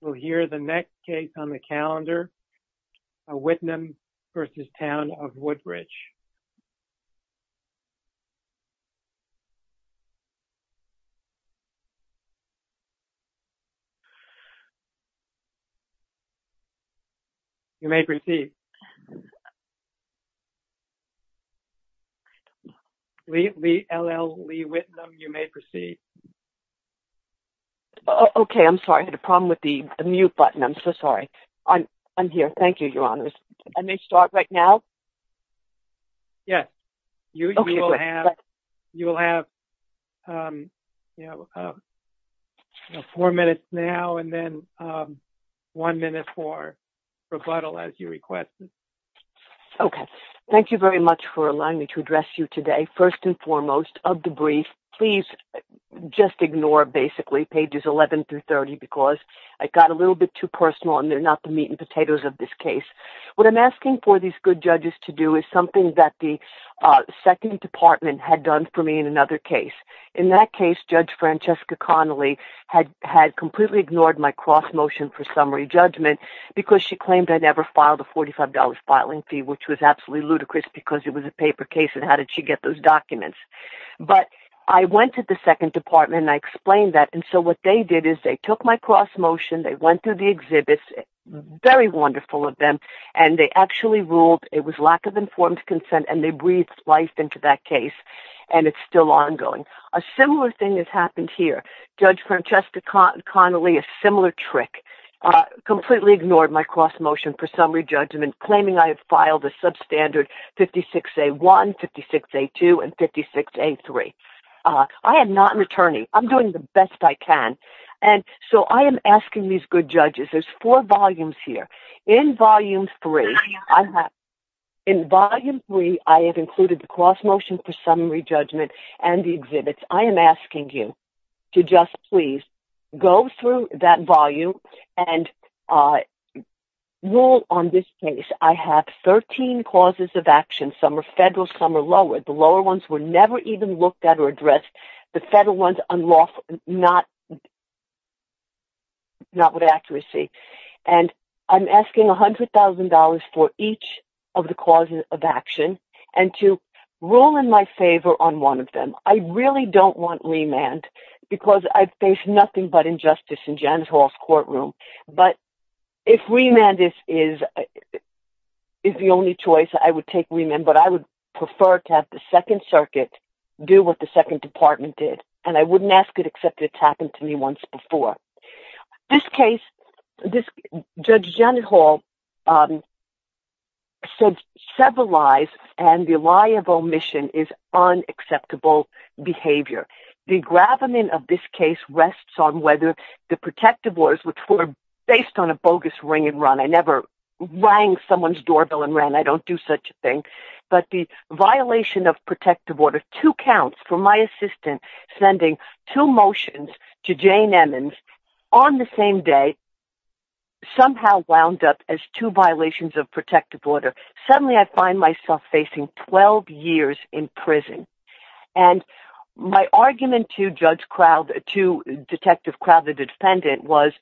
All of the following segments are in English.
We'll hear the next case on the calendar, Whitnum v. Town of Woodbridge. You may proceed. L.L. Lee Whitnum, you may proceed. Okay. I'm sorry. I had a problem with the mute button. I'm so sorry. I'm here. Thank you, Your Honors. I may start right now? Yes. You will have four minutes now and then one minute for rebuttal as you request. Okay. Thank you very much for allowing me to address you today. First and foremost of the brief, please just ignore basically pages 11 through 30 because I got a little bit too personal and they're not the meat and potatoes of this case. What I'm asking for these good judges to do is something that the second department had done for me in another case. In that case, Judge Francesca Connolly had completely ignored my cross motion for summary judgment because she claimed I never filed a $45 filing fee, which was absolutely ludicrous because it was a paper case and how did she get those documents? But I went to the second department and I explained that and so what they did is they took my cross motion, they went through the exhibits, very wonderful of them, and they actually ruled it was lack of informed consent and they breathed life into that case and it's still ongoing. A similar thing has happened here. Judge Francesca Connolly, a similar trick, completely ignored my cross motion for summary judgment claiming I have filed a substandard 56A1, 56A2, and 56A3. I am not an attorney. I'm doing the best I can. And so I am asking these good judges, there's four volumes here. In volume three, I have included the cross motion for summary judgment and the exhibits. I am asking you to just please go through that volume and rule on this case. I have 13 causes of action. Some are federal, some are lower. The lower ones were never even looked at or addressed. The federal ones, not with accuracy. And I'm asking $100,000 for each of the causes of action and to rule in my favor on one of them. I really don't want remand because I face nothing but injustice in Janice Hall's courtroom. But if remand is the only choice, I would take remand. But I would prefer to have the second circuit do what the second department did. And I wouldn't ask it except it's happened to me once before. This case, Judge Janet Hall said several lies and the lie of omission is unacceptable behavior. The gravamen of this case rests on whether the protective orders which were based on a bogus ring and run. I never rang someone's doorbell and ran. I don't do such a thing. But the violation of protective order, two counts for my assistant sending two motions to Jane Emmons on the same day, somehow wound up as two violations of protective order. Suddenly I find myself facing 12 years in prison. And my argument to Judge Kraut, to Detective Kraut, the defendant, was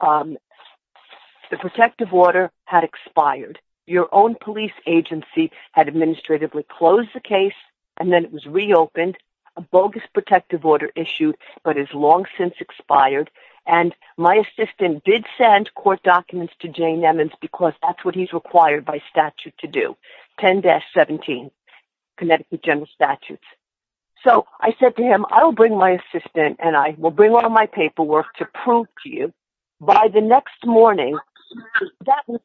the protective order had expired. Your own police agency had administratively closed the case and then it was reopened. A bogus protective order issued but has long since expired. And my assistant did send court documents to Jane Emmons because that's what he's required by statute to do. 10-17, Connecticut General Statutes. So I said to him, I will bring my assistant and I will bring all my paperwork to prove to you by the next morning, that was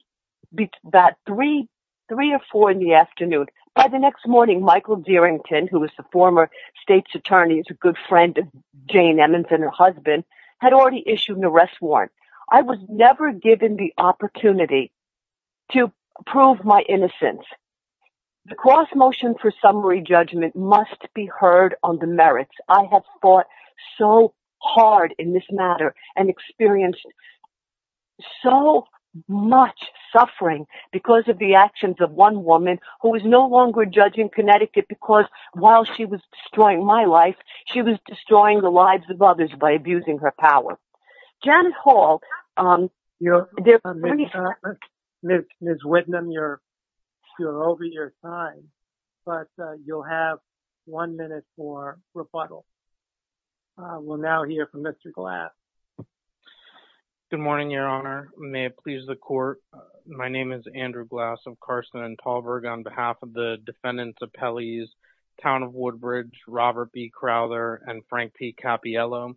about three or four in the afternoon. By the next morning, Michael Dierington, who was the former state's attorney, is a good friend of Jane Emmons and her husband, had already issued an arrest warrant. I was never given the opportunity to prove my innocence. The cross motion for summary judgment must be heard on the merits. I have fought so hard in this matter and experienced so much suffering because of the actions of one woman who is no longer judging Connecticut because while she was destroying my life, she was destroying the lives of others by abusing her power. Janet Hall, you're over your time, but you'll have one minute for rebuttal. We'll now hear from Mr. Glass. Good morning, Your Honor. May it please the court. My name is Andrew Glass of Carson and Talberg on behalf of the defendants' appellees, Town of Woodbridge, Robert B. Crowther and Frank P. Cappiello.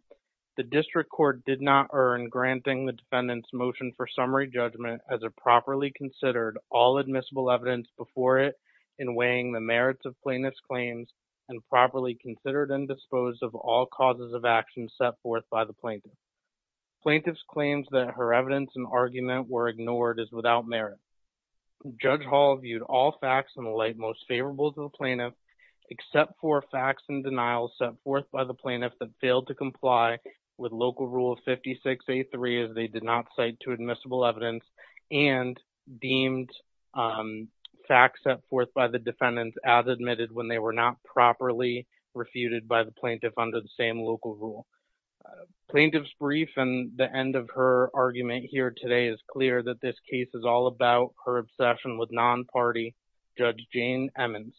The district court did not earn granting the defendant's motion for summary judgment as it properly considered all admissible evidence before it in weighing the merits of plaintiff's claims and properly considered and disposed of all causes of action set forth by the plaintiff. Plaintiff's claims that her evidence and argument were ignored is without merit. Judge Hall viewed all facts in the light most favorable to the plaintiff except for facts and denials set forth by the plaintiff that failed to comply with local rule 56A3 as they did not cite to admissible evidence and deemed facts set forth by the defendants as admitted when they were not properly refuted by the plaintiff under the same local rule. Plaintiff's brief and the end of her argument here today is clear that this case is all about her obsession with non-party Judge Jane Emmons.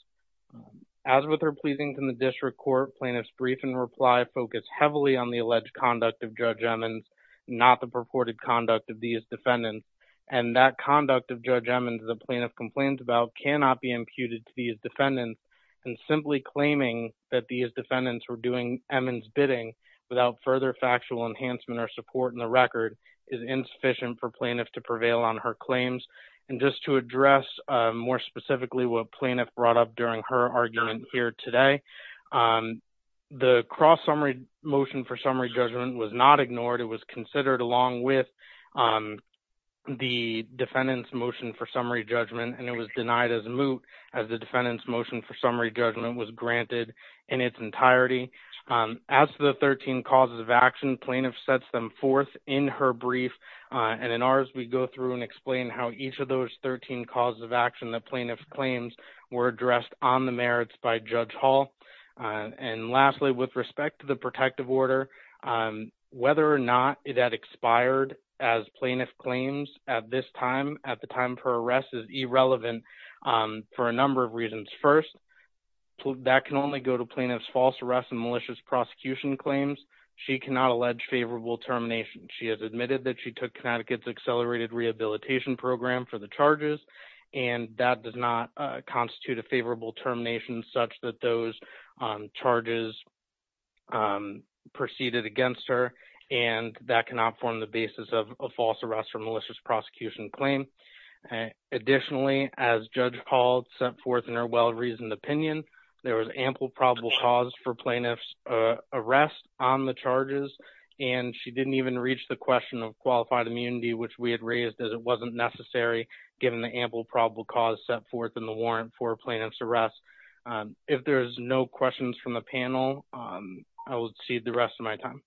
As with her pleasings in the district court, plaintiff's brief and reply focus heavily on the alleged conduct of Judge Emmons, not the purported conduct of these defendants, and that conduct of Judge Emmons the plaintiff complains about cannot be imputed to these defendants and simply claiming that these defendants were doing Emmons bidding without further factual enhancement or support in the record is insufficient for plaintiff to prevail on her claims. And just to address more specifically what plaintiff brought up during her argument here today, the cross-summary motion for summary judgment was not ignored. It was considered along with the defendant's motion for summary judgment and it was denied as a moot as the defendant's motion for summary judgment was granted in its entirety. As to the 13 causes of action, plaintiff sets them forth in her brief and in ours we go through and explain how each of those 13 causes of action the plaintiff claims were addressed on the merits by Judge Hall. And lastly, with respect to the protective order, whether or not it had expired as plaintiff claims at this time, at the time of her arrest is irrelevant for a number of reasons. First, that can only go to plaintiff's false arrest and malicious prosecution claims. She cannot allege favorable termination. She has admitted that she took Connecticut's accelerated rehabilitation program for the charges and that does not constitute a favorable termination such that those charges proceeded against her and that cannot form the basis of a false arrest or malicious prosecution claim. Additionally, as Judge Hall set forth in her well-reasoned opinion, there was ample probable cause for plaintiff's arrest on the charges and she didn't even reach the question of qualified immunity which we had raised as it wasn't necessary given the ample probable cause set forth in the warrant for plaintiff's arrest. If there's no questions from the panel, I will cede the rest of my testimony.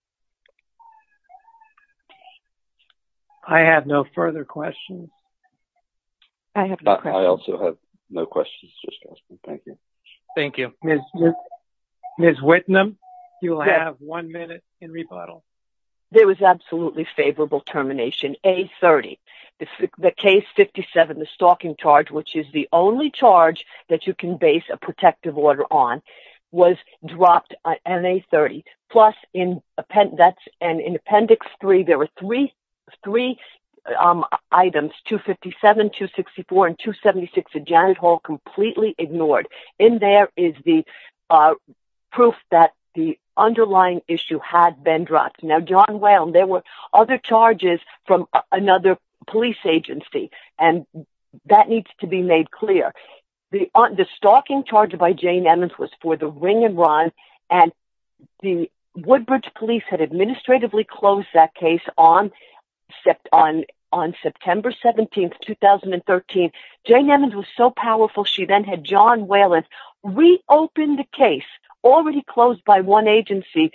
Thank you. Thank you. Ms. Whitnum, you will have one minute in rebuttal. There was absolutely favorable termination, A30. The case 57, the stalking charge, which is the only charge that you can base a protective order on, was dropped on A30. Plus, in appendix three, there were three items, 257, 264, and 276, that Janet Hall completely ignored. In there is the proof that the underlying issue had been dropped. Now, John Whelan, there were other charges from another police agency and that needs to be made clear. The stalking charge by Jane Emmons was for the ring and run and the Woodbridge police had administratively closed that case on September 17, 2013. Jane Emmons was so powerful, she then had John Whelan reopen the case, already closed by one agency,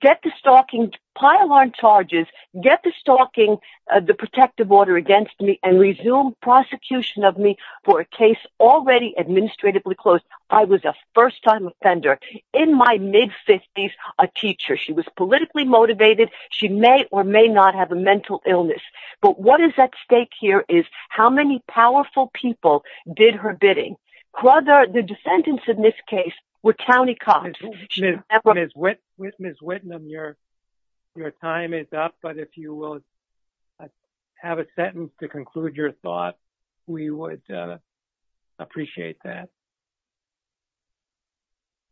get the stalking, pile on charges, get the stalking, the protective order against me and resume prosecution of me for a case already administratively closed. I was a first time offender. In my mid-fifties, a teacher. She was politically motivated. She may or may not have a mental illness. But what is at stake here is how many powerful people did her bidding. The defendants in this case were county cops. Ms. Whitnum, your time is up, but if you will have a sentence to conclude your thought, we would appreciate that.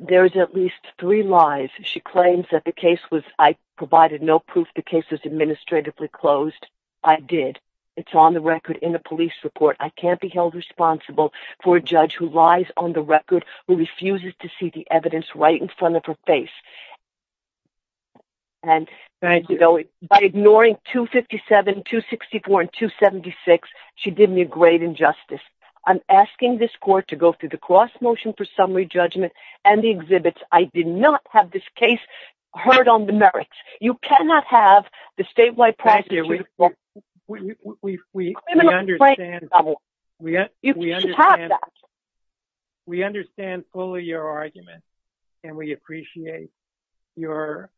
There's at least three lies. She claims that the case was, I provided no proof the case was administratively closed. I did. It's on the record in the police report. I can't be held responsible for a judge who lies on the record, who refuses to see the evidence right in front of her face. And by ignoring 257, 264, and 276, she did me a great injustice. I'm asking this court to go through the cross-motion for summary judgment and the exhibits. I did not have this case heard on the merits. You cannot have the statewide prosecutor. We understand fully your argument, and we appreciate your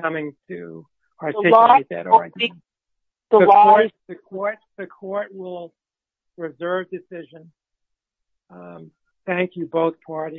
coming to participate in that argument. The court will reserve decision. Thank you, both parties.